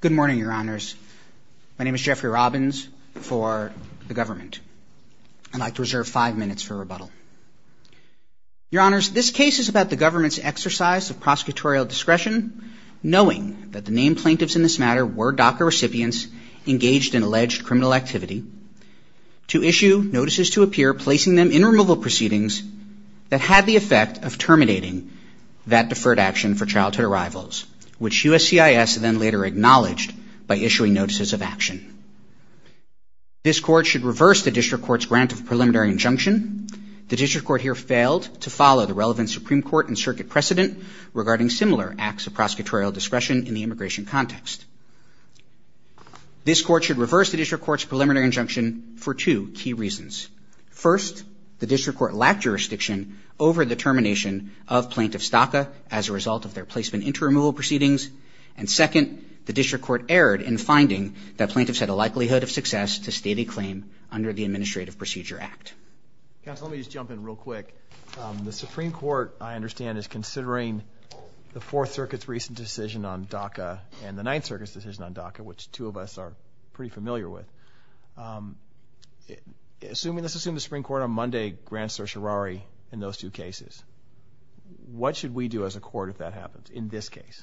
Good morning, Your Honors. My name is Jeffrey Robbins for the government. I'd like to reserve five minutes for rebuttal. Your Honors, this case is about the government's exercise of prosecutorial discretion, knowing that the named plaintiffs in this matter were DACA recipients engaged in alleged criminal activity, to issue notices to appear, placing them in childhood arrivals, which USCIS then later acknowledged by issuing notices of action. This court should reverse the district court's grant of preliminary injunction. The district court here failed to follow the relevant Supreme Court and circuit precedent regarding similar acts of prosecutorial discretion in the immigration context. This court should reverse the district court's preliminary injunction for two key reasons. First, the district court lacked jurisdiction over the termination of plaintiff's DACA as a result of their placement into removal proceedings. And second, the district court erred in finding that plaintiffs had a likelihood of success to state a claim under the Administrative Procedure Act. Counsel, let me just jump in real quick. The Supreme Court, I understand, is considering the Fourth Circuit's recent decision on DACA and the Ninth Circuit's decision on DACA, which two of us are pretty familiar with. Assuming, let's assume the Supreme Court on those two cases, what should we do as a court if that happens in this case?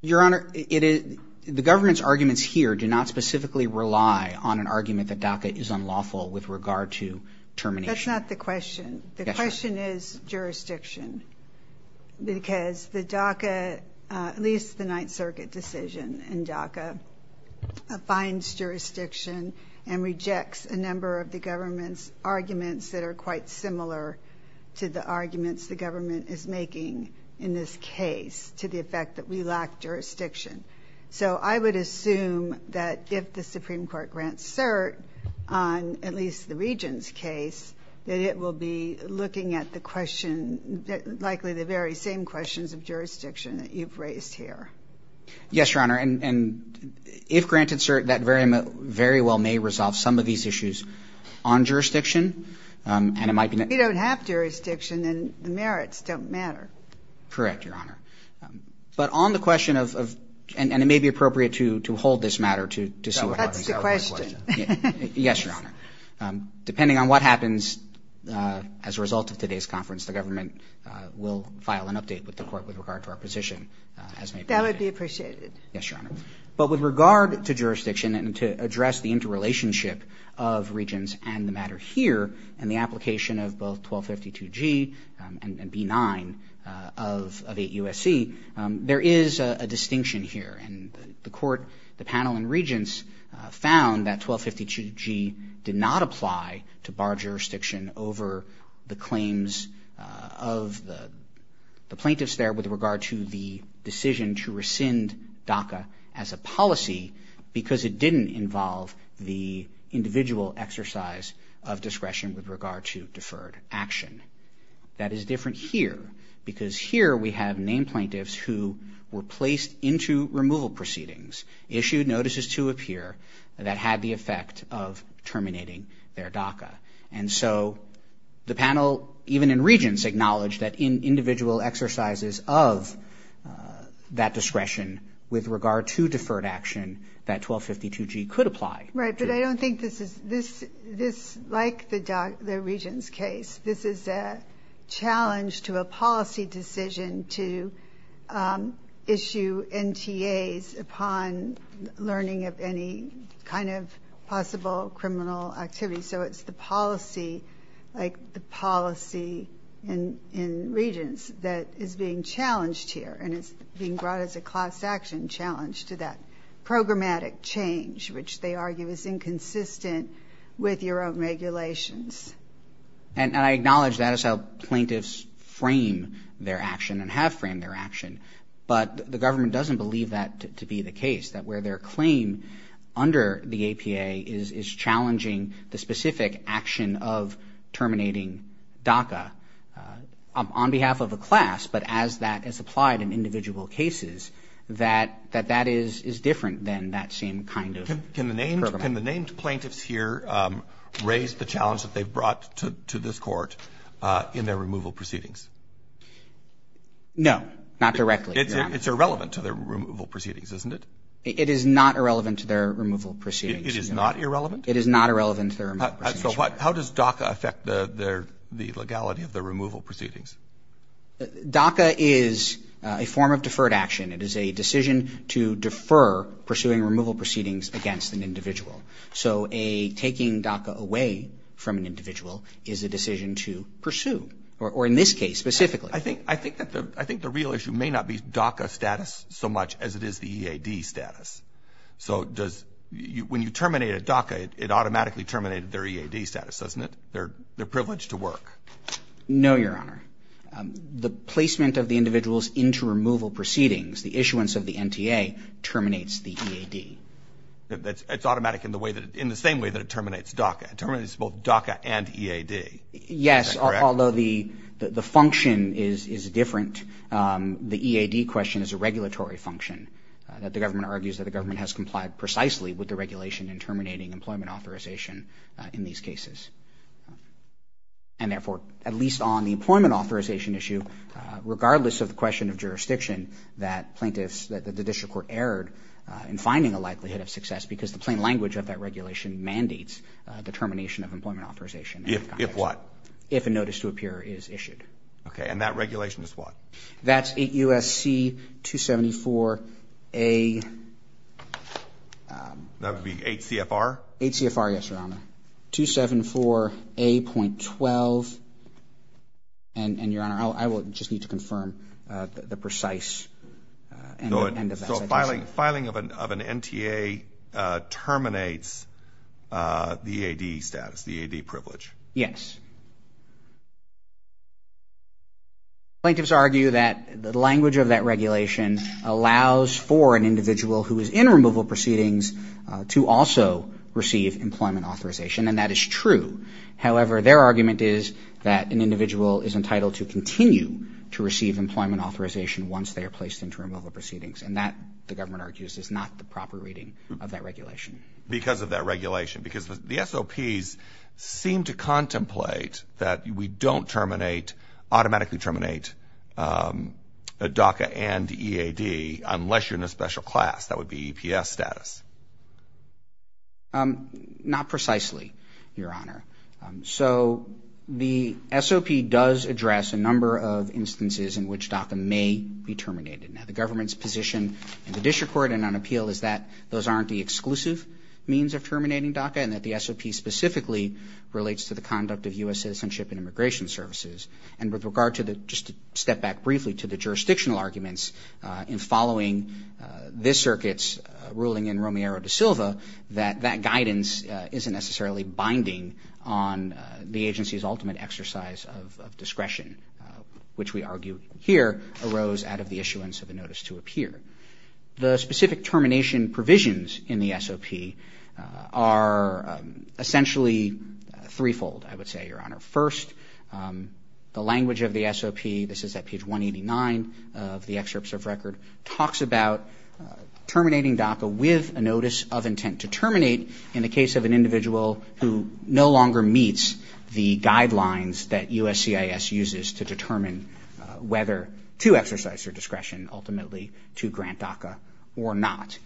Your Honor, the government's arguments here do not specifically rely on an argument that DACA is unlawful with regard to termination. That's not the question. The question is jurisdiction. Because the DACA, at least the Ninth Circuit decision in DACA, finds jurisdiction and rejects a number of the government's arguments that are quite similar to the arguments the government is making in this case to the effect that we lack jurisdiction. So I would assume that if the Supreme Court grants cert on at least the Regent's case, that it will be looking at the question, likely the very same questions of jurisdiction that you've raised here. Yes, Your Honor. And if granted cert, that very well may resolve some of these issues on jurisdiction. And it might be that... If you don't have jurisdiction, then the merits don't matter. Correct, Your Honor. But on the question of... And it may be appropriate to hold this matter to see what happens... That's the question. Yes, Your Honor. Depending on what happens as a result of today's conference, the government will file an update with the court with regard to our position, as may be. That would be appreciated. Yes, Your Honor. But with regard to jurisdiction and to address the interrelationship of Regents and the matter here, and the application of both 1252G and B9 of 8 U.S.C., there is a distinction here. And the court, the panel, and Regents found that 1252G did not apply to bar jurisdiction over the claims of the plaintiffs there with regard to the decision to rescind DACA as a policy, because it didn't involve the individual exercise of discretion with regard to deferred action. That is different here, because here we have named plaintiffs who were placed into removal proceedings, issued notices to appear, that had the effect of terminating their DACA. And so the panel, even in Regents, acknowledged that in individual exercises of that discretion with regard to deferred action, that 1252G could apply. Right. But I don't think this is – this, like the Regents case, this is a challenge to a policy decision to issue NTAs upon learning of any kind of possible criminal activity. So it's the policy, like the policy in Regents, that is being challenged here. And it's being brought as a class action challenge to that programmatic change, which they argue is inconsistent with your own regulations. And I acknowledge that is how plaintiffs frame their action and have framed their action. But the government doesn't believe that to be the case, that where their claim under the APA is challenging the specific action of terminating DACA on behalf of a class, but as that is applied in individual cases, that that is different than that same kind of program. Can the named plaintiffs here raise the challenge that they've brought to this Court in their removal proceedings? No, not directly. It's irrelevant to their removal proceedings, isn't it? It is not irrelevant to their removal proceedings. It is not irrelevant? It is not irrelevant to their removal proceedings. So how does DACA affect the legality of their removal proceedings? DACA is a form of deferred action. It is a decision to defer pursuing removal proceedings against an individual. So a taking DACA away from an individual is a decision to pursue, or in this case, specifically. I think the real issue may not be DACA status so much as it is the EAD status. So when you terminate a DACA, it automatically terminated their EAD status, doesn't it? Their privilege to work. No, Your Honor. The placement of the individual's into removal proceedings, the issuance of the NTA, terminates the EAD. It's automatic in the same way that it terminates DACA. It terminates both DACA and EAD. Is that correct? Although the function is different, the EAD question is a regulatory function that the government argues that the government has complied precisely with the regulation in terminating employment authorization in these cases. And therefore, at least on the employment authorization issue, regardless of the question of jurisdiction, that plaintiffs – that the district court erred in finding a likelihood of success because the plain language of that regulation mandates the termination of employment authorization in that context. If what? If a notice to appear is issued. Okay. And that regulation is what? That's 8 U.S.C. 274A – That would be 8 C.F.R.? 8 C.F.R., yes, Your Honor. 274A.12. And, Your Honor, I will just need to confirm the precise – So filing of an NTA terminates the EAD status, the EAD privilege? Yes. Plaintiffs argue that the language of that regulation allows for an individual who is in removal proceedings to also receive employment authorization, and that is true. However, their argument is that an individual is entitled to continue to receive employment authorization once they are placed into removal proceedings, and that, the government argues, is not the proper reading of that regulation. Because of that regulation? Because the SOPs seem to contemplate that we don't terminate – automatically terminate a DACA and EAD unless you're in a special class. That would be EPS status. Not precisely, Your Honor. So the SOP does address a number of instances in which DACA may be terminated. Now, the government's position in the district court and on appeal is that those aren't the exclusive means of terminating DACA, and that the SOP specifically relates to the conduct of U.S. citizenship and immigration services. And with regard to the – just to step back briefly to the jurisdictional arguments in following this circuit's ruling in Romero de Silva, that that guidance isn't necessarily binding on the agency's ultimate exercise of discretion, which we argue here arose out of the issuance of a notice to appear. The specific termination provisions in the SOP are essentially threefold, I would say, Your Honor. First, the language of the SOP – this is at page 189 of the excerpts of record – talks about terminating DACA with a notice of intent to terminate in the case of an individual who no longer meets the guidelines that USCIS uses to determine whether to exercise their discretion ultimately to grant DACA or not.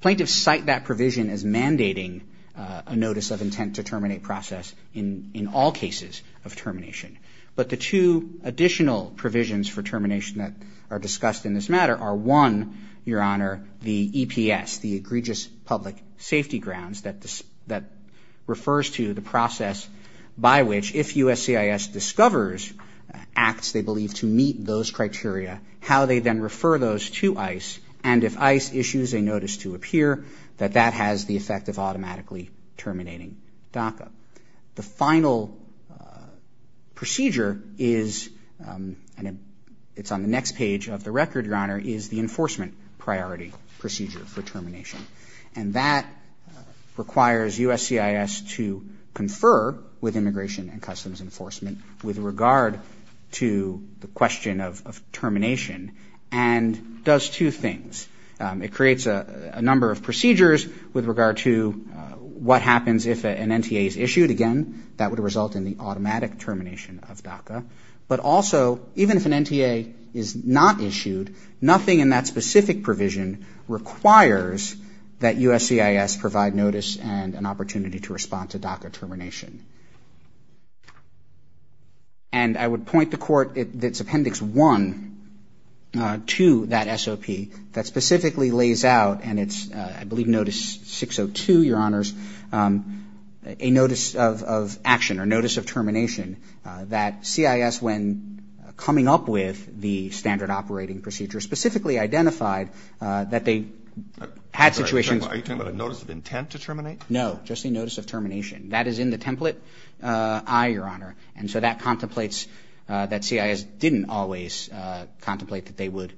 Plaintiffs cite that provision as mandating a notice of intent to terminate process in all cases of termination. But the two additional provisions for termination that are discussed in this matter are, one, Your Honor, the EPS – the egregious public safety grounds – that refers to the process by which, if USCIS discovers acts they believe to meet those criteria, how they then refer those to ICE, and if ICE issues a notice to appear, that that has the effect of automatically terminating DACA. The final procedure is – and it's on the next page of the record, Your Honor – is the enforcement priority procedure for termination. And that requires USCIS to confer on the – with Immigration and Customs Enforcement – with regard to the question of termination and does two things. It creates a number of procedures with regard to what happens if an NTA is issued. Again, that would result in the automatic termination of DACA. But also, even if an NTA is not issued, nothing in that specific provision requires that USCIS provide notice and an opportunity to respond to DACA termination. And I would point the Court – it's Appendix 1 to that SOP – that specifically lays out – and it's, I believe, Notice 602, Your Honors – a notice of action or notice of termination that CIS, when coming up with the standard operating procedure, specifically identified that they had situations – Are you talking about a notice of intent to terminate? No, just a notice of termination. That is in the template I, Your Honor. And so that contemplates – that CIS didn't always contemplate that they would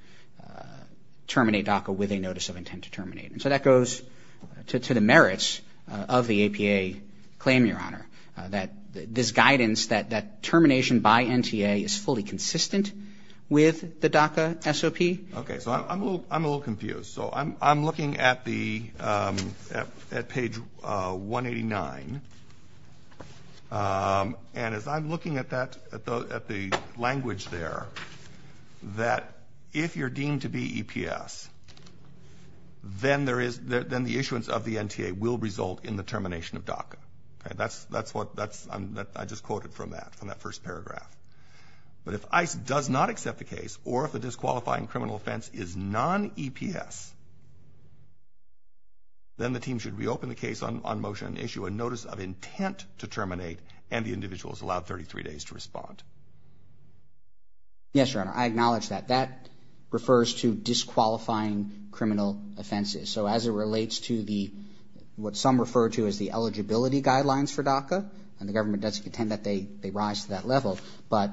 terminate DACA with a notice of intent to terminate. And so that goes to the merits of the APA claim, Your Honor, that this guidance that termination by NTA is fully consistent with the DACA SOP. Okay. So I'm a little confused. So I'm looking at the – at page 189. And as I'm looking at that – at the language there, that if you're deemed to be EPS, then there is – then the issuance of the NTA will result in the termination of DACA. Okay? That's what – that's – I just quoted from that, from that first paragraph. But if ICE does not accept the case, or if the disqualifying criminal offense is non-EPS, then the team should reopen the case on motion and issue a notice of intent to terminate, and the individual is allowed 33 days to respond. Yes, Your Honor. I acknowledge that. That refers to disqualifying criminal offenses. So as it relates to the – what some refer to as the eligibility guidelines for DACA, and the government does contend that they rise to that level, but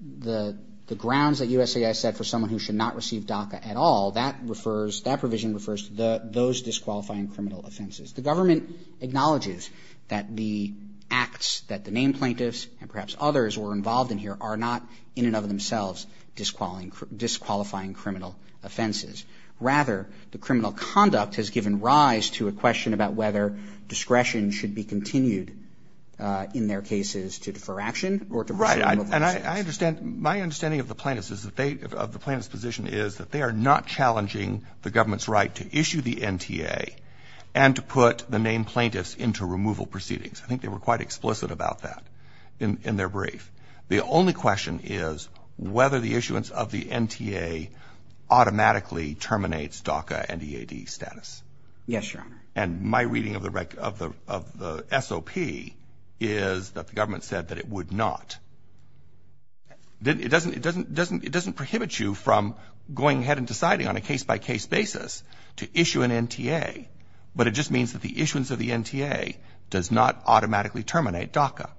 the grounds that USAID set for someone who should not receive DACA at all, that refers – that provision refers to those disqualifying criminal offenses. The government acknowledges that the acts that the named plaintiffs and perhaps others were involved in here are not, in and of themselves, disqualifying criminal offenses. Rather, the criminal conduct has given rise to a question about whether discretion should be continued in their cases to defer action or to pursue removal proceedings. Right. And I understand – my understanding of the plaintiffs is that they – of the plaintiffs' position is that they are not challenging the government's right to issue the NTA and to put the named plaintiffs into removal proceedings. I think they were quite explicit about that in their brief. The only question is whether the issuance of the NTA automatically terminates DACA and EAD status. Yes, Your Honor. And my reading of the SOP is that the government said that it would not. It doesn't – it doesn't prohibit you from going ahead and deciding on a case-by-case basis to issue an NTA, but it just means that the issuance of the NTA does not automatically terminate DACA.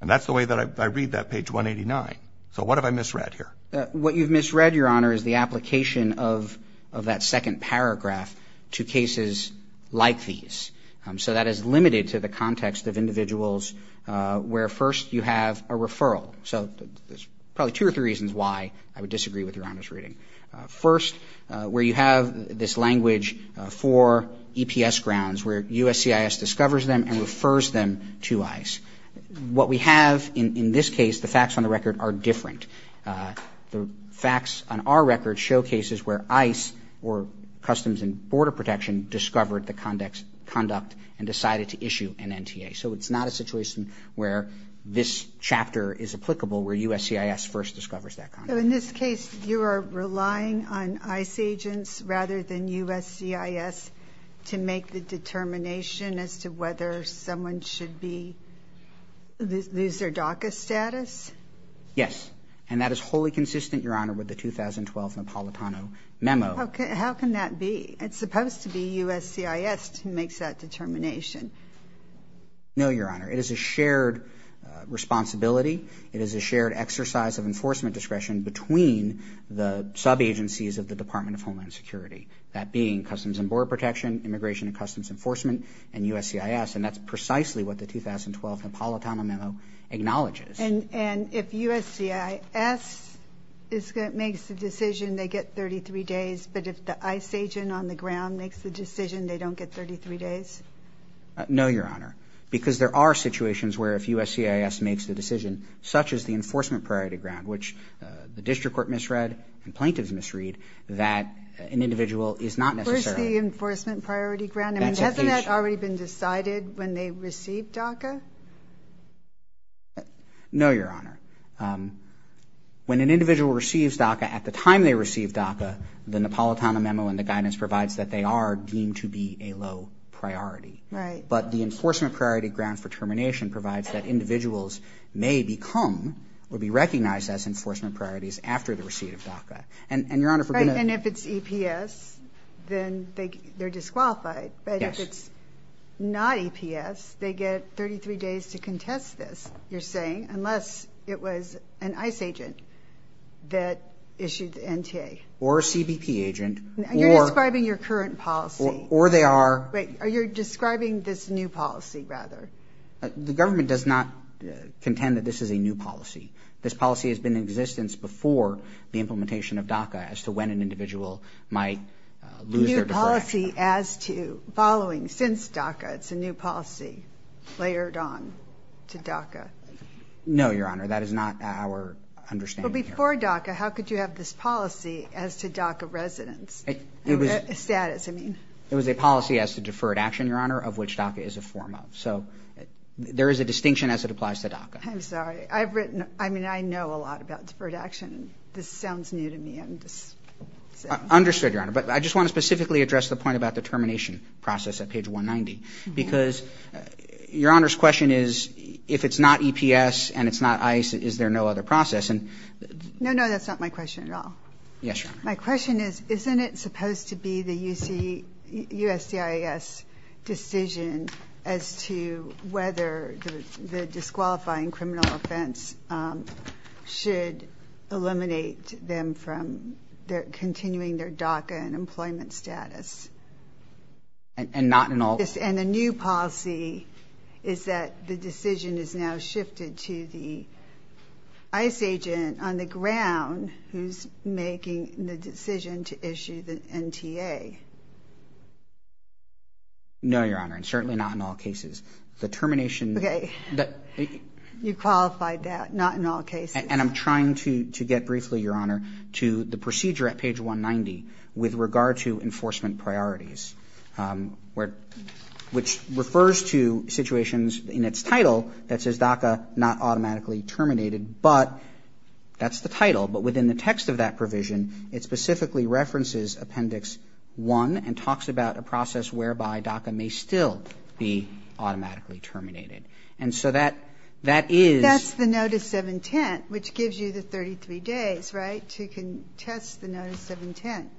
And that's the way that I read that page 189. So what have I misread here? What you've misread, Your Honor, is the application of that second paragraph to cases like these. So that is limited to the context of individuals where, first, you have a referral. So there's probably two or three reasons why I would disagree with Your Honor's reading. First, where you have this language for EPS grounds, where USCIS discovers them and refers them to ICE. What we have in this case, the facts on the record are different. The facts on our record showcases where ICE or Customs and Border Protection discovered the conduct and decided to issue an NTA. So it's not a situation where this chapter is applicable, where USCIS first discovers that conduct. So in this case, you are relying on ICE agents rather than USCIS to make the determination as to whether someone should be, lose their DACA status? Yes. And that is wholly consistent, Your Honor, with the 2012 Napolitano memo. How can that be? It's supposed to be USCIS who makes that determination. No, Your Honor. It is a shared responsibility. It is a shared exercise of enforcement discretion between the sub-agencies of the Department of Homeland Security. That being Customs and USCIS. And that's precisely what the 2012 Napolitano memo acknowledges. And if USCIS makes the decision, they get 33 days. But if the ICE agent on the ground makes the decision, they don't get 33 days? No, Your Honor. Because there are situations where if USCIS makes the decision, such as the enforcement priority ground, which the district court misread and plaintiffs misread, that an individual is not necessarily... Has that already been decided when they receive DACA? No, Your Honor. When an individual receives DACA at the time they receive DACA, the Napolitano memo and the guidance provides that they are deemed to be a low priority. But the enforcement priority ground for termination provides that individuals may become or be recognized as enforcement priorities after the receipt of DACA. And Your Honor, if we're going to... If it's not EPS, then they're disqualified. But if it's not EPS, they get 33 days to contest this, you're saying, unless it was an ICE agent that issued the NTA. Or a CBP agent, or... You're describing your current policy. Or they are... Wait. You're describing this new policy, rather. The government does not contend that this is a new policy. This policy has been in existence before the implementation of DACA, as to when an individual might lose their deferred action. A new policy as to following, since DACA. It's a new policy layered on to DACA. No, Your Honor. That is not our understanding here. But before DACA, how could you have this policy as to DACA residents? It was... Status, I mean. It was a policy as to deferred action, Your Honor, of which DACA is a form of. So there is a distinction as it applies to DACA. I'm sorry. I've written... I mean, I know a lot about deferred action. This sounds new to me. I'm just... Understood, Your Honor. But I just want to specifically address the point about the termination process at page 190. Because Your Honor's question is, if it's not EPS and it's not ICE, is there no other process? And... No, no. That's not my question at all. Yes, Your Honor. My question is, isn't it supposed to be the USCIS decision as to whether the disqualifying criminal offense should eliminate them from continuing their DACA and employment status? And not in all... And the new policy is that the decision is now shifted to the ICE agent on the ground who's making the decision to issue the NTA. No, Your Honor. And certainly not in all cases. The termination... Okay. You qualified that. Not in all cases. And I'm trying to get briefly, Your Honor, to the procedure at page 190 with regard to enforcement priorities, which refers to situations in its title that says DACA not automatically terminated. But that's the title. But within the text of that provision, it specifically references Appendix 1 and talks about a process whereby DACA may still be automatically terminated. And so that is... That's the notice of intent, which gives you the 33 days, right, to contest the notice of intent.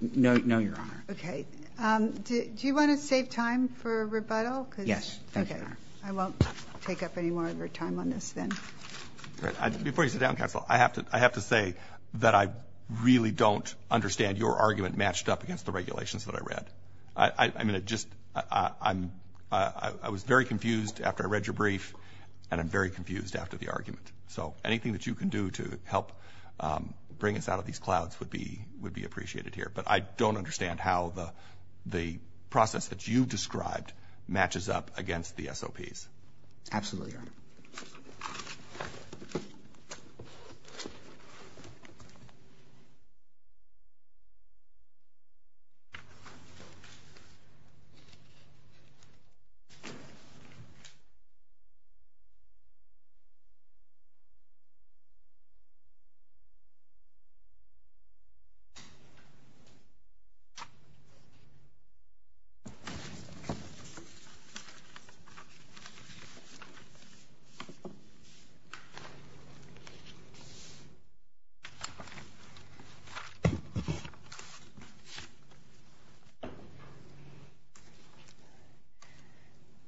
No, Your Honor. Okay. Do you want to save time for rebuttal? Yes. Thank you, Your Honor. Okay. I won't take up any more of your time on this then. Before you sit down, counsel, I have to say that I really don't understand your argument matched up against the regulations that I read. I mean, it just... I was very confused after I read your brief, and I'm very confused after the argument. So anything that you can do to help bring us out of these clouds would be appreciated here. But I don't understand how the process that you described matches up against the SOPs. Absolutely, Your Honor. Thank you.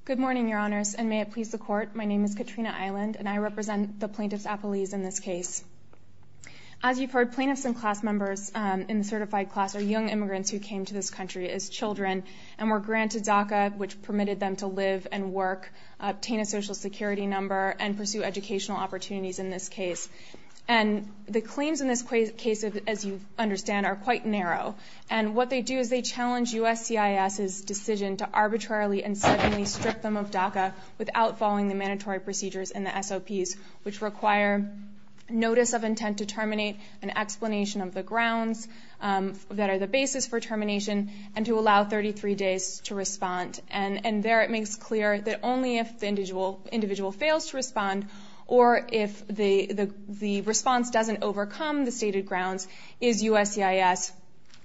Good morning, Your Honors, and may it please the Court. My name is Katrina Island, and I represent the plaintiffs' appellees in this case. As you've heard, plaintiffs and class members in the certified class are young immigrants who came to this country as children and were granted DACA, which permitted them to live and work, obtain a social security number, and pursue educational opportunities in this case. And the claims in this case, as you understand, are quite narrow. And what they do is they challenge USCIS's decision to arbitrarily and suddenly strip them of DACA without following the mandatory procedures in the SOPs, which require notice of intent to terminate, an explanation of the grounds that are the basis for termination, and to allow 33 days to respond. And there it makes clear that only if the individual fails to respond or if the response doesn't overcome the stated grounds, is USCIS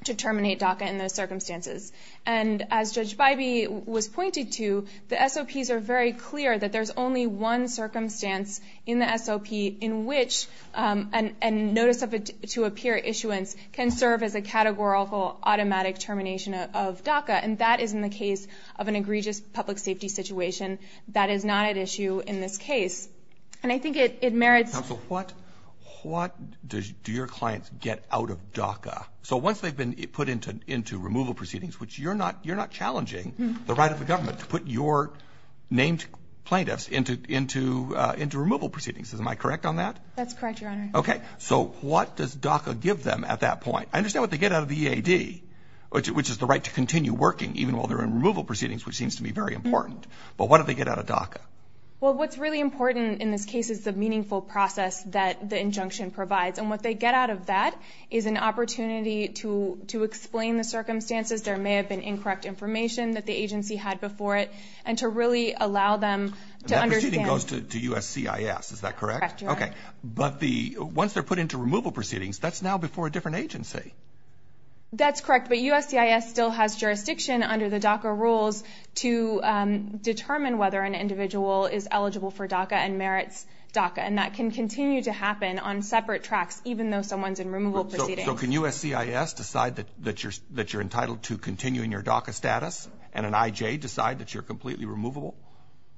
to terminate DACA in those circumstances. And as Judge Bybee was pointing to, the SOPs are very clear that there's only one circumstance in the SOP in which a notice to appear issuance can serve as a categorical automatic termination of DACA, and that is in the case of an egregious public safety situation that is not at issue in this case. And I think it merits— Counsel, what do your clients get out of DACA? So once they've been put into removal proceedings, which you're not challenging the right of the government to put your named plaintiffs into removal proceedings. Am I correct on that? That's correct, Your Honor. Okay. So what does DACA give them at that point? I understand what they get out of the EAD, which is the right to continue working even while they're in removal proceedings, which seems to be very important. But what do they get out of DACA? Well, what's really important in this case is the meaningful process that the injunction provides. And what they get out of that is an opportunity to explain the circumstances—there may have been incorrect information that the agency had before it—and to really allow them to understand— That proceeding goes to USCIS, is that correct? Correct, Your Honor. Okay. But once they're put into removal proceedings, that's now before a different agency. That's correct. But USCIS still has jurisdiction under the DACA rules to determine whether an individual is eligible for DACA and merits DACA. And that can continue to happen on separate tracks, even though someone's in removal proceedings. So can USCIS decide that you're entitled to continue in your DACA status and an IJ decide that you're completely removable?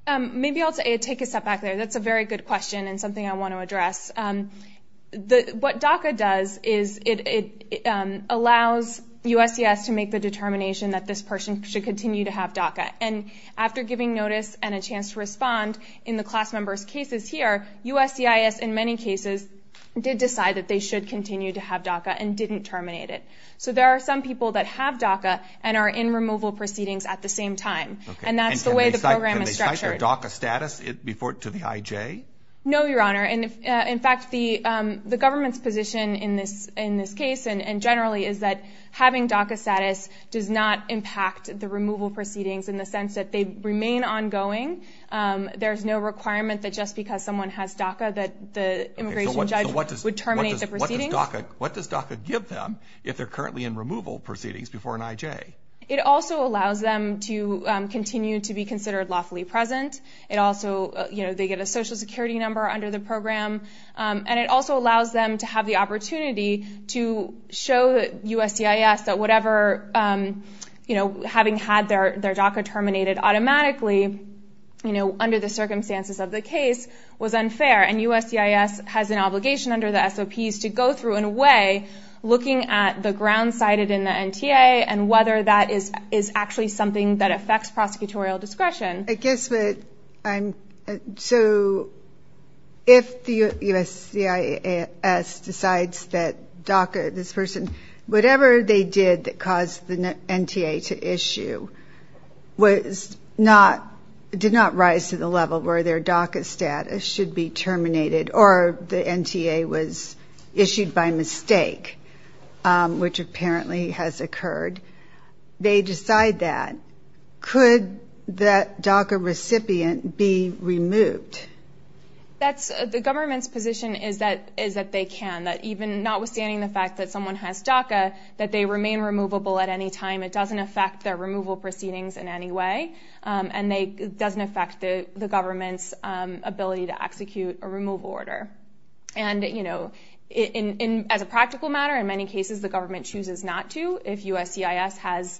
Maybe I'll take a step back there. That's a very good question and something I want to address. What DACA does is it allows USCIS to make the determination that this person should continue to have DACA. And after giving notice and a chance to respond in the class members' cases here, USCIS in many cases did decide that they should continue to have DACA and didn't terminate it. So there are some people that have DACA and are in removal proceedings at the same time. And that's the way the program is structured. Can they cite their DACA status to the IJ? No, Your Honor. In fact, the government's position in this case and generally is that having DACA status does not impact the removal proceedings in the sense that they remain ongoing. There's no requirement that just because someone has DACA that the immigration judge would terminate the proceedings. What does DACA give them if they're currently in removal proceedings before an IJ? It also allows them to continue to be considered lawfully present. It also, you know, they get a social security number under the program. And it also allows them to have the opportunity to show USCIS that whatever, you know, having had their DACA terminated automatically, you know, under the circumstances of the case was unfair. And USCIS has an obligation under the SOPs to go through in a way looking at the grounds cited in the NTA and whether that is actually something that affects prosecutorial discretion. I guess what I'm, so if the USCIS decides that DACA, this person, whatever they did that caused the NTA to issue was not, did not rise to the level where their DACA status should be terminated or the NTA was issued by mistake, which apparently has occurred. And they decide that. Could that DACA recipient be removed? That's, the government's position is that, is that they can. That even notwithstanding the fact that someone has DACA, that they remain removable at any time. It doesn't affect their removal proceedings in any way. And they, it doesn't affect the government's ability to execute a removal order. And, you know, as a practical matter, in many cases the government chooses not to. If USCIS has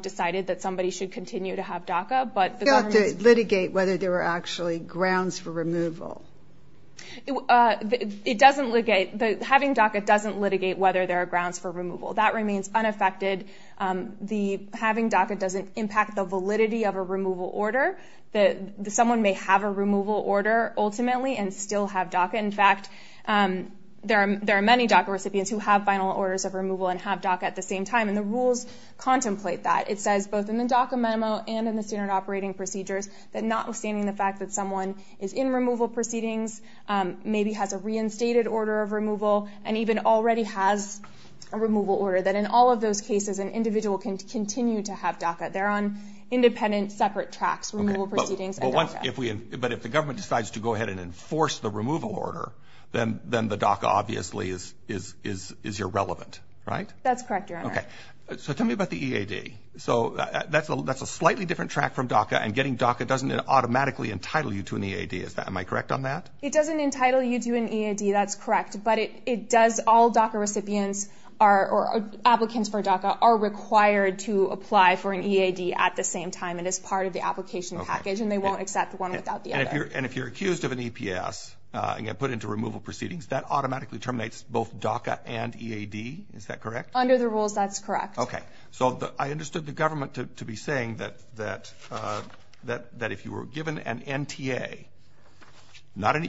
decided that somebody should continue to have DACA, but the government's... You don't have to litigate whether there were actually grounds for removal. It doesn't, having DACA doesn't litigate whether there are grounds for removal. That remains unaffected. The, having DACA doesn't impact the validity of a removal order. Someone may have a removal order ultimately and still have DACA. In fact, there are many DACA recipients who have final orders of removal and have DACA at the same time. And the rules contemplate that. It says both in the DACA memo and in the standard operating procedures, that notwithstanding the fact that someone is in removal proceedings, maybe has a reinstated order of removal, and even already has a removal order, that in all of those cases an individual can continue to have DACA. They're on independent, separate tracks, removal proceedings and DACA. But if we, but if the government decides to go ahead and enforce the removal order, then the DACA obviously is irrelevant, right? That's correct, Your Honor. So tell me about the EAD. So that's a slightly different track from DACA and getting DACA doesn't automatically entitle you to an EAD. Am I correct on that? It doesn't entitle you to an EAD, that's correct. But it does, all DACA recipients are, or applicants for DACA are required to apply for an EAD at the same time. It is part of the application package and they won't accept one without the other. And if you're accused of an EPS and get put into removal proceedings, that automatically terminates both DACA and EAD, is that correct? Under the rules, that's correct. Okay. So I understood the government to be saying that if you were given an NTA,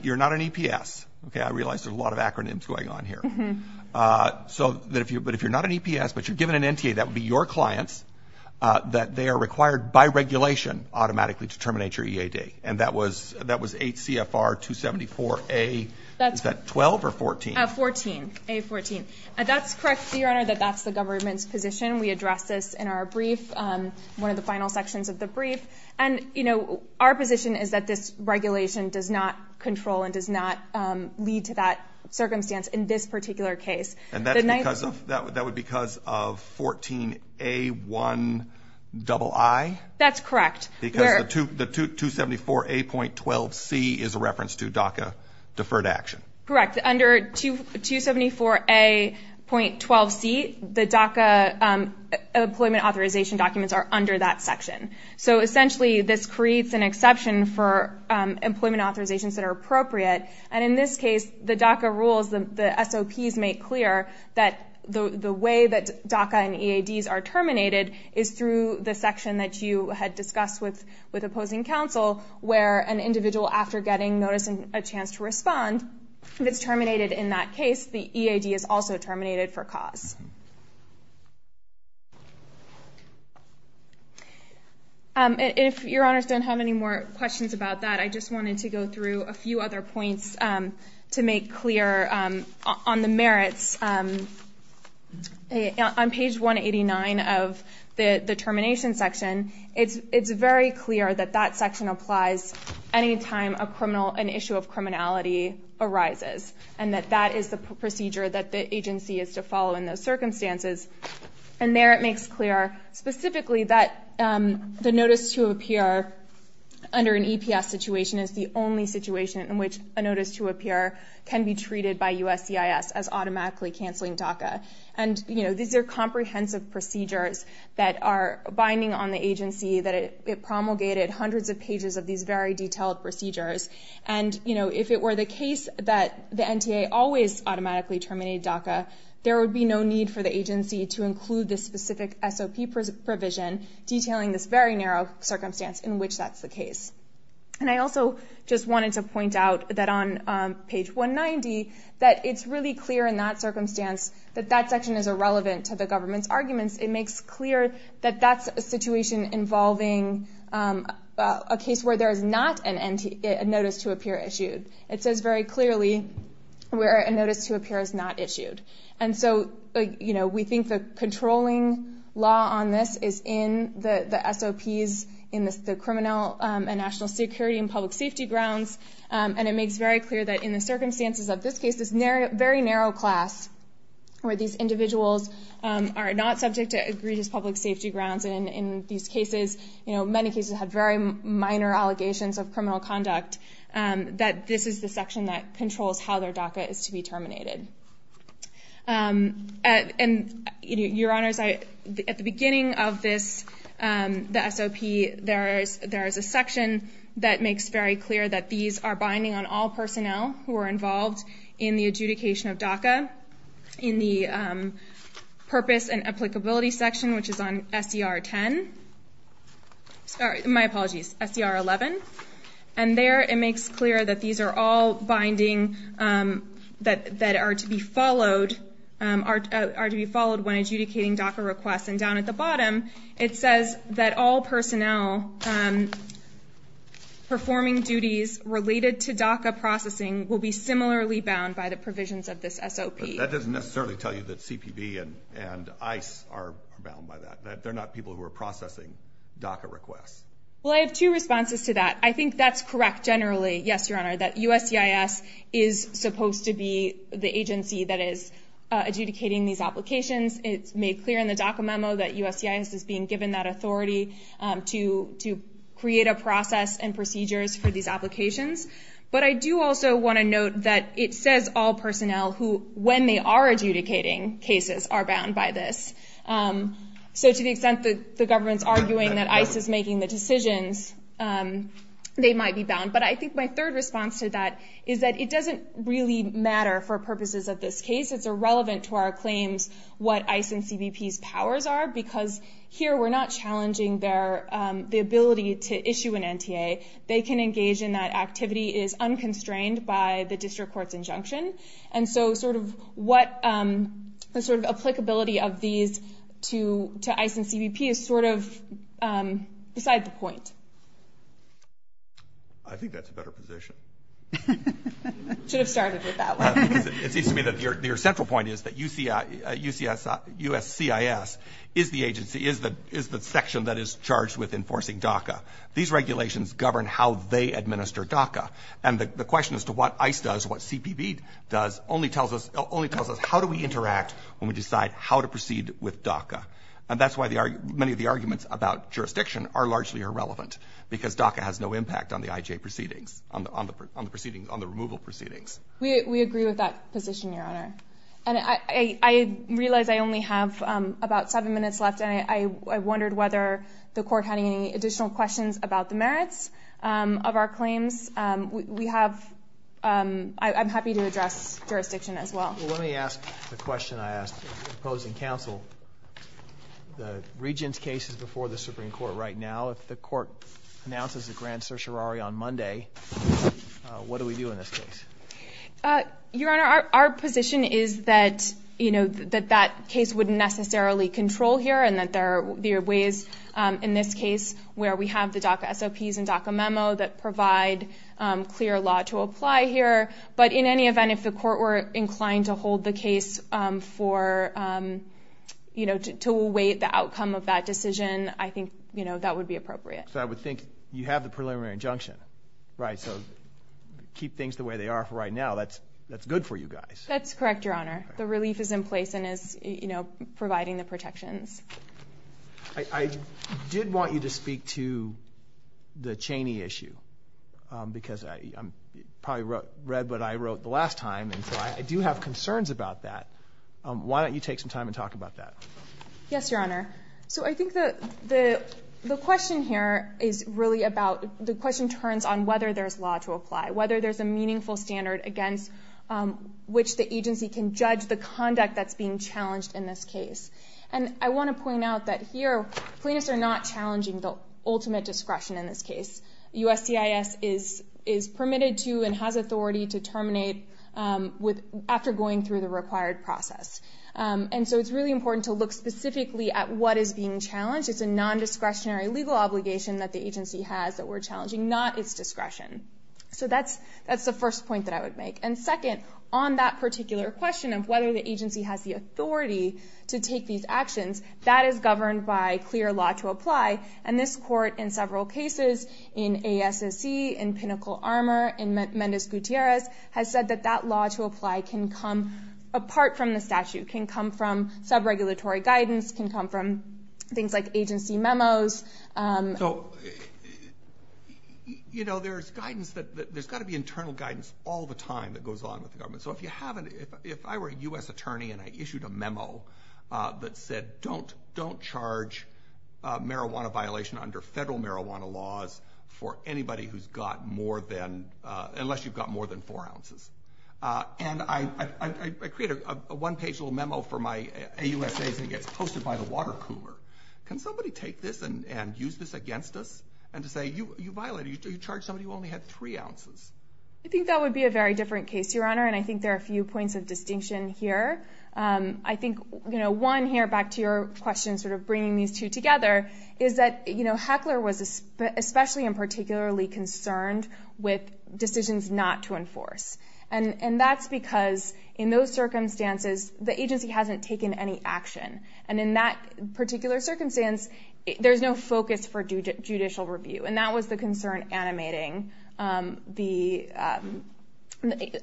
you're not an EPS. Okay, I realize there's a lot of acronyms going on here. But if you're not an EPS but you're given an NTA, that would be your clients, that they are required by regulation automatically to terminate your EAD. And that was 8 CFR 274A, is that 12 or 14? 14, A14. And that's correct, Your Honor, that that's the government's position. We addressed this in our brief, one of the final sections of the brief. And our position is that this regulation does not control and does not lead to that circumstance in this particular case. And that would be because of 14A1II? That's correct. Because the 274A.12C is a reference to DACA deferred action. Correct. Under 274A.12C, the DACA employment authorization documents are under that section. So essentially, this creates an exception for employment authorizations that are appropriate. And in this case, the DACA rules, the SOPs make clear that the way that DACA and EADs are terminated is through the process with opposing counsel, where an individual, after getting notice and a chance to respond, if it's terminated in that case, the EAD is also terminated for cause. If Your Honors don't have any more questions about that, I just wanted to go through a few other points to make clear on the merits. On page 189 of the termination section, it's very clear that that section applies any time an issue of criminality arises and that that is the procedure that the agency is to follow in those circumstances. And there it makes clear specifically that the notice to appear under an EPS situation is the only situation in which a notice to appear can be treated by actually canceling DACA. And these are comprehensive procedures that are binding on the agency, that it promulgated hundreds of pages of these very detailed procedures. And if it were the case that the NTA always automatically terminated DACA, there would be no need for the agency to include this specific SOP provision detailing this very narrow circumstance in which that's the case. And I also just wanted to point out that on page 190, that it's really clear in that circumstance that that section is irrelevant to the government's arguments. It makes clear that that's a situation involving a case where there is not a notice to appear issued. It says very clearly where a notice to appear is not issued. And so we think the controlling law on this is in the SOPs, in the criminal and national security and public safety grounds, and it makes very clear that under the circumstances of this case, this very narrow class, where these individuals are not subject to egregious public safety grounds, and in these cases, many cases have very minor allegations of criminal conduct, that this is the section that controls how their DACA is to be terminated. Your Honors, at the beginning of this, the SOP, there is a section that makes very clear that these are binding on all personnel who are involved in the adjudication of DACA, in the purpose and applicability section, which is on SER 10. Sorry, my apologies, SER 11. And there it makes clear that these are all binding that are to be followed when adjudicating DACA requests. And down at the bottom, it says that all personnel performing duties related to DACA processing will be similarly bound by the provisions of this SOP. That doesn't necessarily tell you that CPB and ICE are bound by that, that they're not people who are processing DACA requests. Well, I have two responses to that. I think that's correct generally, yes, Your Honor, that USCIS is supposed to be the agency that is adjudicating these and that USCIS is being given that authority to create a process and procedures for these applications. But I do also want to note that it says all personnel who, when they are adjudicating cases, are bound by this. So to the extent that the government's arguing that ICE is making the decisions, they might be bound. But I think my third response to that is that it doesn't really matter for purposes of this case. It's irrelevant to our because here we're not challenging the ability to issue an NTA. They can engage in that activity is unconstrained by the district court's injunction. And so sort of what the sort of applicability of these to ICE and CBP is sort of beside the point. I think that's a better position. Should have started with that one. It seems to me that your central point is that USCIS is the agency, is the section that is charged with enforcing DACA. These regulations govern how they administer DACA. And the question as to what ICE does, what CBP does, only tells us, how do we interact when we decide how to proceed with DACA? And that's why many of the arguments about jurisdiction are largely irrelevant because DACA has no impact on the IJ proceedings, on the removal proceedings. We agree with that position, Your Honor. And I realize I only have about seven minutes left and I wondered whether the court had any additional questions about the merits of our claims. We have, I'm happy to address jurisdiction as well. Let me ask the question I asked opposing counsel. The Regent's case is before the Supreme Court right now. If the court announces a grand certiorari on Monday, what do we do in this case? Your Honor, our position is that, you know, that that case wouldn't necessarily control here and that there are ways in this case where we have the DACA SOPs and DACA memo that provide clear law to apply here. But in any event, if the court were inclined to hold the case for, you know, to await the outcome of that decision, I think, you know, that would be appropriate. So I would think you have the preliminary injunction, right? So keep things the way they are for right now. That's good for you guys. That's correct, Your Honor. The relief is in place and is, you know, providing the protections. I did want you to speak to the Cheney issue because I probably read what I wrote the last time and so I do have concerns about that. Why don't you take some time and talk about that? Yes, Your Honor. So I think the question here is really about, the question turns on whether there's law to apply, whether there's a meaningful standard against which the agency can judge the conduct that's being challenged in this case. And I want to point out that here plaintiffs are not challenging the ultimate discretion in this case. USCIS is permitted to and has authority to terminate after going through the required process. And so it's really important to look specifically at what is being challenged. It's a nondiscretionary legal obligation that the agency has that we're challenging, not its discretion. So that's the first point that I would make. And second, on that particular question of whether the agency has the authority to take these actions, that is governed by clear law to apply. And this court in several cases, in ASSC, in Pinnacle Armor, in Mendez Gutierrez, has said that that law to apply can come apart from the statute, can come from sub-regulatory guidance, can come from things like agency memos. So, you know, there's guidance that... There's got to be internal guidance all the time that goes on with the government. So if you haven't... If I were a U.S. attorney and I issued a memo that said, don't charge marijuana violation under federal marijuana laws for anybody who's got more than... unless you've got more than four ounces. And I create a one-page little memo for my AUSAs and it gets posted by the water cooler. Can somebody take this and use this against us and to say, you violated... You charged somebody who only had three ounces. I think that would be a very different case, Your Honor, and I think there are a few points of distinction here. I think, you know, one here, back to your question sort of bringing these two together, is that, you know, Heckler was especially and particularly concerned with decisions not to enforce. And that's because, in those circumstances, the agency hasn't taken any action. And in that particular circumstance, there's no focus for judicial review. And that was the concern animating the...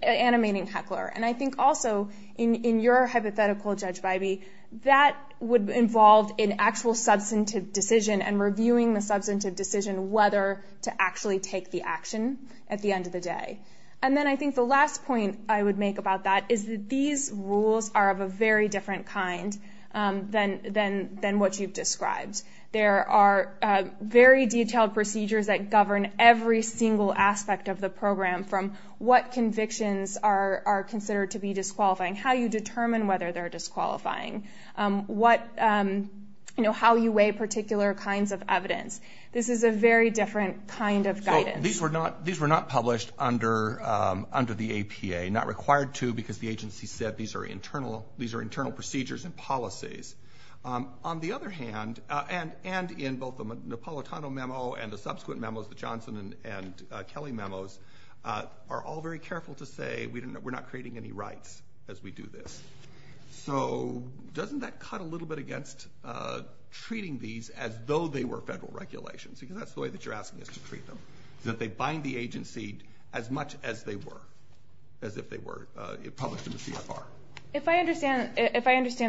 animating Heckler. And I think also, in your hypothetical, Judge Bybee, that would involve an actual substantive decision and reviewing the substantive decision whether to actually take the action at the end of the day. And then I think the last point I would make about that is that these rules are of a very different kind than what you've described. There are very detailed procedures that govern every single aspect of the program from what convictions are considered to be disqualifying, how you determine whether they're disqualifying, what, you know, how you weigh particular kinds of evidence. This is a very different kind of guidance. These were not published under the APA. Not required to, because the agency said these are internal procedures and policies. On the other hand, and in both the Napolitano memo and the subsequent memos, the Johnson and Kelly memos, are all very careful to say we're not creating any rights as we do this. So doesn't that cut a little bit against treating these as though they were federal regulations? Because that's the way that you're asking us to treat them, that they bind the agency as much as they were, as if they were published in the CFR. If I understand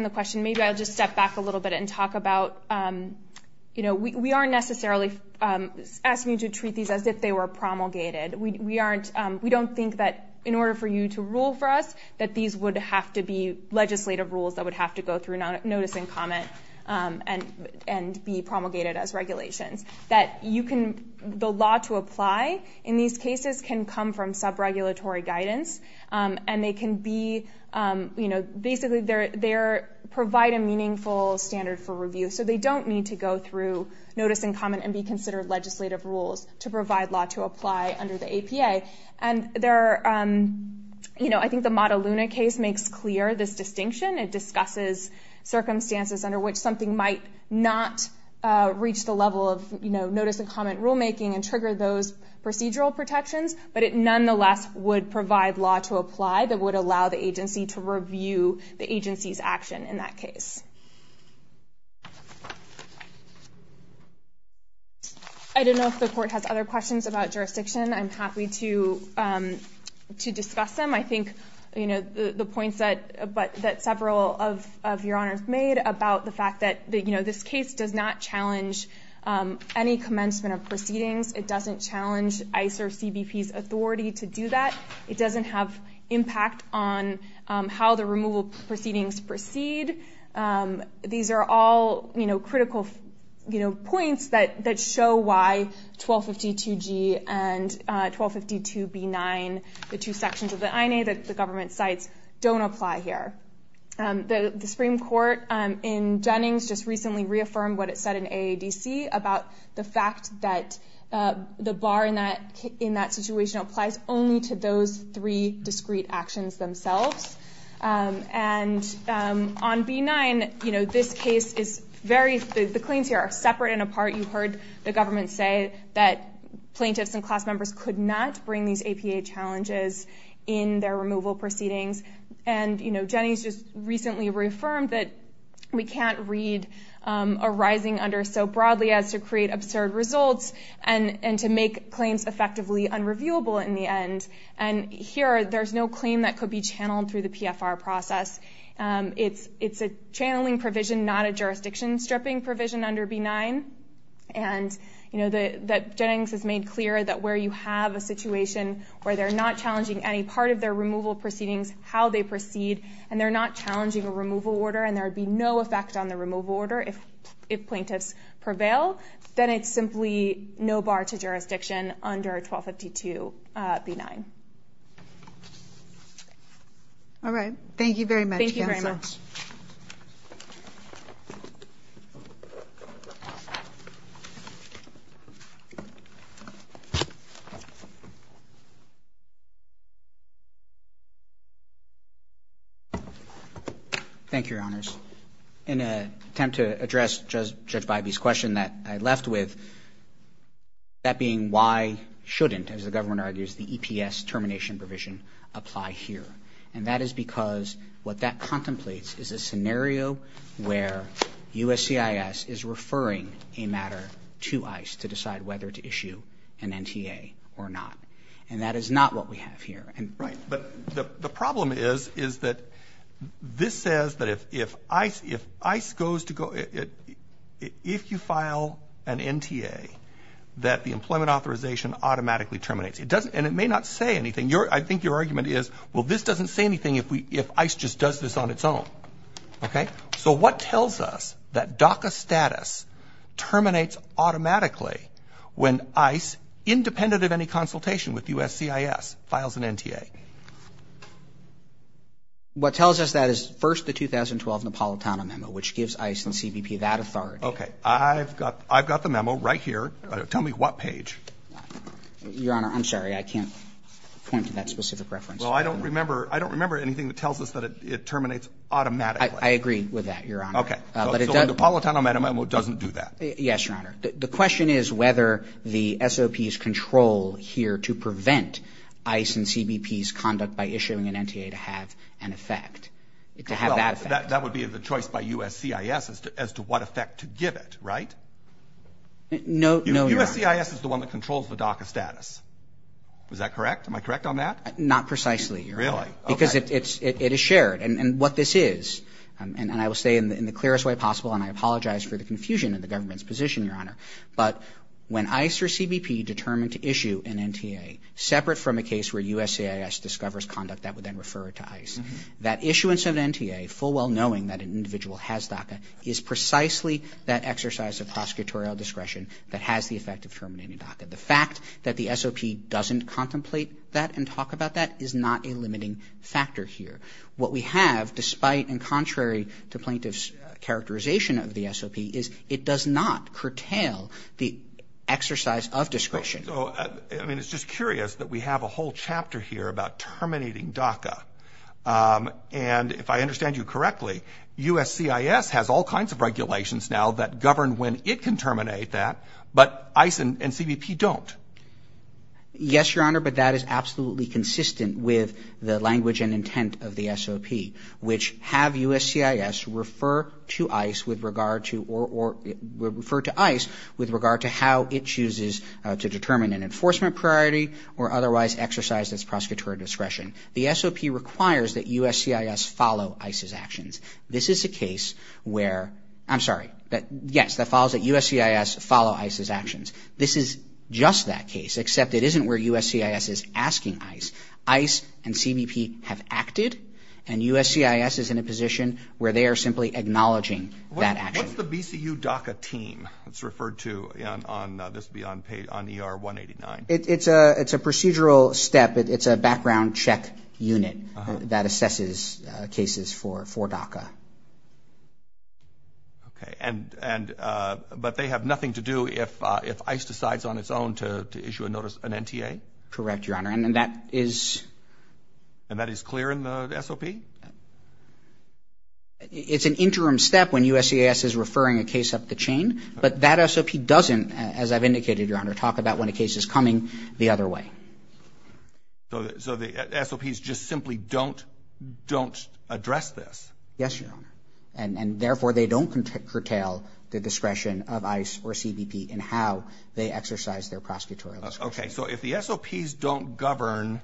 the question, maybe I'll just step back a little bit and talk about, you know, we aren't necessarily asking you to treat these as if they were promulgated. We don't think that in order for you to rule for us that these would have to be legislative rules that would have to go through notice and comment and be promulgated as regulations. That you can... the law to apply in these cases can come from sub-regulatory guidance, and they can be, you know, basically they provide a meaningful standard for review. So they don't need to go through notice and comment and be considered legislative rules to provide law to apply under the APA. And there are, you know, I think the Mataluna case makes clear this distinction. It discusses circumstances under which something might not reach the level of, you know, notice and comment rulemaking and trigger those procedural protections, but it nonetheless would provide law to apply that would allow the agency to review the agency's action in that case. I don't know if the court has other questions about jurisdiction. I'm happy to discuss them. I think, you know, the points that several of your honors made about the fact that, you know, this case does not challenge any commencement of proceedings. It doesn't challenge ICER CBP's authority to do that. It doesn't have impact on how the removal proceedings proceed. These are all, you know, critical, you know, points that show why 1252G and 1252B9, the two sections of the INA that the government cites, don't apply here. The Supreme Court in Jennings just recently reaffirmed what it said in AADC about the fact that the bar in that situation applies only to those three discrete actions themselves. And on B9, you know, this case is very... The claims here are separate and apart. You heard the government say that plaintiffs and class members could not bring these APA challenges in their removal proceedings. And, you know, Jennings just recently reaffirmed that we can't read a rising under so broadly as to create absurd results and to make claims effectively unreviewable in the end. And here, there's no claim that could be channeled through the PFR process. It's a channeling provision, not a jurisdiction-stripping provision under B9. And, you know, Jennings has made clear that where you have a situation where they're not challenging any part of their removal proceedings, how they proceed, and they're not challenging a removal order and there would be no effect on the removal order if plaintiffs prevail, then it's simply no bar to jurisdiction under 1252B9. All right, thank you very much, Counsel. Thank you very much. Thank you, Your Honors. In an attempt to address Judge Bybee's question that I left with, that being why shouldn't, as the government argues, the EPS termination provision apply here. And that is because what that contemplates is a scenario where USCIS is referring a matter to ICE to decide whether to issue an NTA or not. And that is not what we have here. Right, but the problem is, is that this says that if ICE goes to go... if you file an NTA, that the employment authorization automatically terminates. And it may not say anything. I think your argument is, well, this doesn't say anything if ICE just does this on its own. Okay? So what tells us that DACA status terminates automatically when ICE, independent of any consultation with USCIS, files an NTA? What tells us that is, first, the 2012 Napolitano memo, which gives ICE and CBP that authority. Okay. I've got the memo right here. Tell me what page. Your Honor, I'm sorry. I can't point to that specific reference. Well, I don't remember anything that tells us that it terminates automatically. I agree with that, Your Honor. Okay. So the Napolitano memo doesn't do that. Yes, Your Honor. The question is whether the SOP's control here to prevent ICE and CBP's conduct by issuing an NTA to have an effect, to have that effect. Well, that would be the choice by USCIS as to what effect to give it, right? No, Your Honor. USCIS is the one that controls the DACA status. Is that correct? Am I correct on that? Not precisely, Your Honor. Really? Okay. Because it is shared. And what this is, and I will say in the clearest way possible, and I apologize for the confusion in the government's position, Your Honor, but when ICE or CBP determine to issue an NTA, separate from a case where USCIS discovers conduct that would then refer it to ICE, that issuance of an NTA, full well knowing that an individual has DACA, is precisely that exercise of prosecutorial discretion that has the effect of terminating DACA. The fact that the SOP doesn't contemplate that and talk about that is not a limiting factor here. What we have, despite and contrary to plaintiff's characterization of the SOP, is it does not curtail the exercise of discretion. So, I mean, it's just curious that we have a whole chapter here about terminating DACA. And if I understand you correctly, USCIS has all kinds of regulations now that govern when it can terminate that, but ICE and CBP don't. Yes, Your Honor, but that is absolutely consistent with the language and intent of the SOP, which have USCIS refer to ICE with regard to or refer to ICE with regard to how it chooses to determine an enforcement priority or otherwise exercise its prosecutorial discretion. The SOP requires that USCIS follow ICE's actions. This is a case where, I'm sorry, yes, that follows that USCIS follow ICE's actions. This is just that case, except it isn't where USCIS is asking ICE. ICE and CBP have acted and USCIS is in a position where they are simply acknowledging that action. What's the BCU DACA team? It's referred to on, this will be on page, on ER 189. It's a procedural step. It's a background check unit that assesses cases for DACA. Okay, and, but they have nothing to do if ICE decides on its own to issue a notice, an NTA? Correct, Your Honor, and that is... Is that part of the SOP? It's an interim step when USCIS is referring a case up the chain, but that SOP doesn't, as I've indicated, Your Honor, talk about when a case is coming the other way. So the SOPs just simply don't, don't address this? Yes, Your Honor, and therefore they don't curtail the discretion of ICE or CBP in how they exercise their prosecutorial discretion. Okay, so if the SOPs don't govern,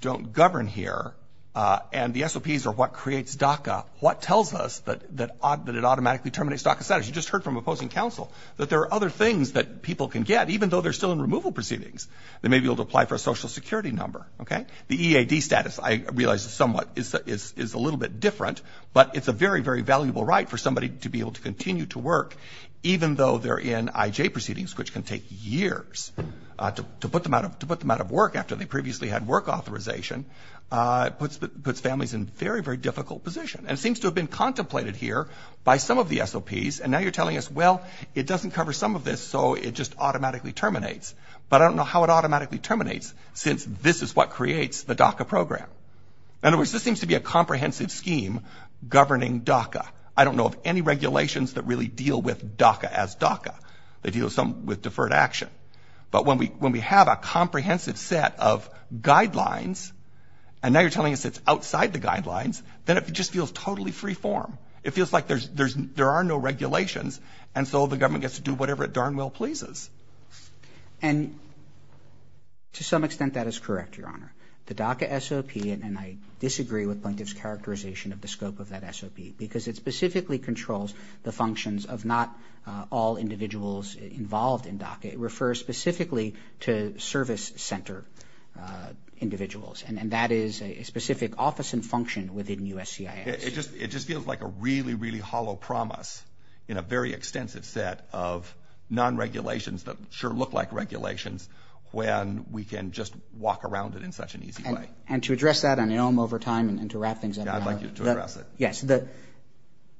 don't govern here, and the SOPs are what creates DACA, what tells us that it automatically terminates DACA status? You just heard from opposing counsel that there are other things that people can get even though they're still in removal proceedings. They may be able to apply for a Social Security number, okay? The EAD status, I realize is somewhat, is a little bit different, but it's a very, very valuable right for somebody to be able to continue to work even though they're in IJ proceedings, which can take years to put them out of work after they previously had work authorization, puts families in a very, very difficult position. And it seems to have been contemplated here by some of the SOPs, and now you're telling us, well, it doesn't cover some of this, so it just automatically terminates. But I don't know how it automatically terminates since this is what creates the DACA program. In other words, this seems to be a comprehensive scheme governing DACA. I don't know of any regulations that really deal with DACA as DACA. They deal with some with deferred action. But when we, when we have a comprehensive set of guidelines, and now you're telling us it's outside the guidelines, then it just feels totally freeform. It feels like there's, there are no regulations, and so the government gets to do whatever it darn well pleases. And to some extent, that is correct, Your Honor. The DACA SOP, and I disagree with plaintiff's characterization of the scope of that SOP, because it specifically controls the functions of not all individuals involved in DACA. It refers specifically to service center individuals, and that is a specific office and function within USCIS. It just, it just feels like a really, really hollow promise in a very extensive set of non-regulations that sure look like regulations when we can just walk around it in such an easy way. And to address that, and I know I'm over time, and to wrap things up... Yeah, I'd like you to address it. Yes. The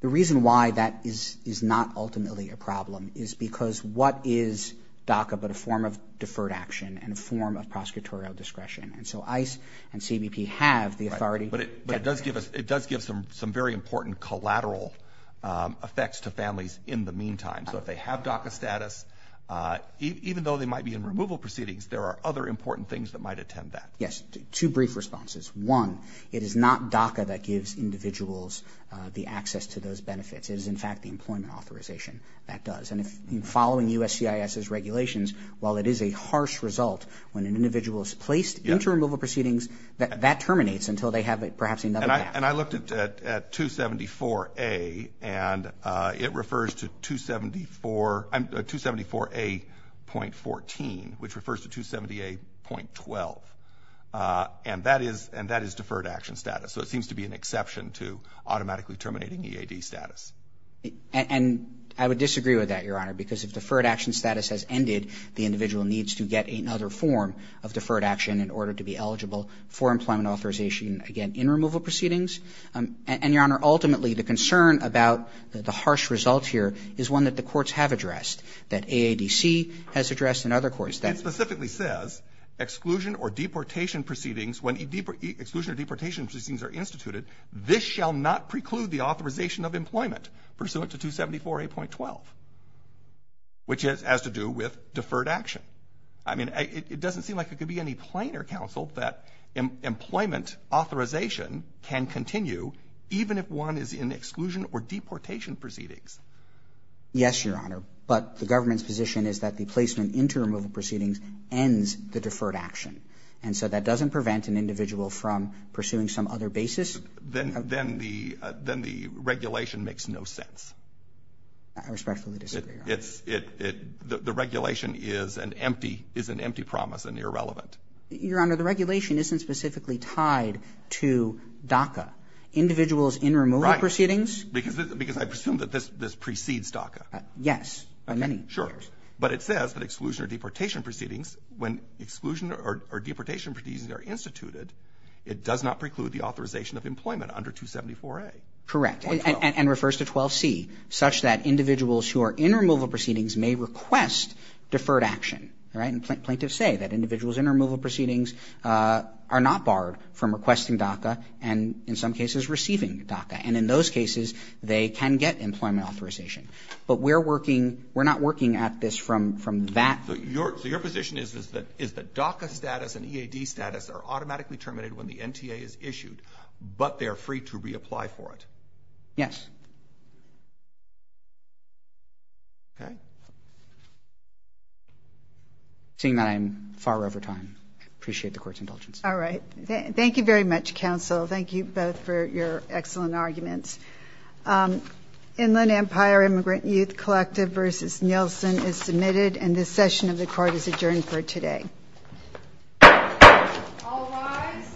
reason why that is, is not ultimately a problem is because what is DACA but a form of deferred action and a form of prosecutorial discretion? And so ICE and CBP have the authority... Right, but it does give us, it does give some very important collateral effects to families in the meantime. So if they have DACA status, even though they might be in removal proceedings, there are other important things that might attend that. Yes. Two brief responses. One, it is not DACA that gives individuals the access to those benefits. It is, in fact, the employment authorization that does. And if you're following USCIS's regulations, while it is a harsh result when an individual is placed into removal proceedings, that terminates until they have perhaps another DACA. And I looked at 274A and it refers to 274A.14, which refers to 278.12. And that is deferred action status. So it seems to be an exception to automatically terminating EAD status. And I would disagree with that, Your Honor, because if deferred action status has ended, the individual needs to get another form of deferred action in order to be eligible for employment authorization, again, in removal proceedings. And, Your Honor, ultimately the concern about the harsh result here is one that the courts have addressed, that AADC has addressed It specifically says, exclusion or deportation proceedings, when exclusion or deportation proceedings are instituted, this shall not preclude the authorization of employment. Pursuant to 274A.12, which has to do with deferred action. I mean, it doesn't seem like it could be any plainer, counsel, that employment authorization can continue even if one is in exclusion or deportation proceedings. Yes, Your Honor. But the government's position is that the placement into removal proceedings ends the deferred action. And so that doesn't prevent an individual from pursuing some other basis. Then the regulation makes no sense. I respectfully disagree, Your Honor. It's, it, it, the regulation is an empty, is an empty promise and irrelevant. Your Honor, the regulation isn't specifically tied to DACA. Individuals in removal proceedings. Right. Because I presume that this precedes DACA. Yes. By many years. Sure. But it says that exclusion or deportation proceedings, when exclusion or deportation proceedings are instituted, it does not preclude the authorization of employment under 274A. Correct. And, and, and refers to 12C such that individuals who are in removal proceedings may request deferred action. Right. And plaintiffs say that individuals in removal proceedings are not barred from requesting DACA and in some cases receiving DACA. And in those cases they can get employment authorization. But we're working, we're not working at this from, from that. So your, so your position is, is that, is that DACA status and EAD status are automatically terminated when the NTA is issued but they are free to reapply for it? Yes. Okay. Seeing that I'm far over time. I appreciate the court's indulgence. All right. Thank you very much, counsel. Thank you both for your excellent arguments. Inland Empire Immigrant Youth Collective versus Nielsen is submitted and this session of the court is adjourned for today. All rise. Thank you.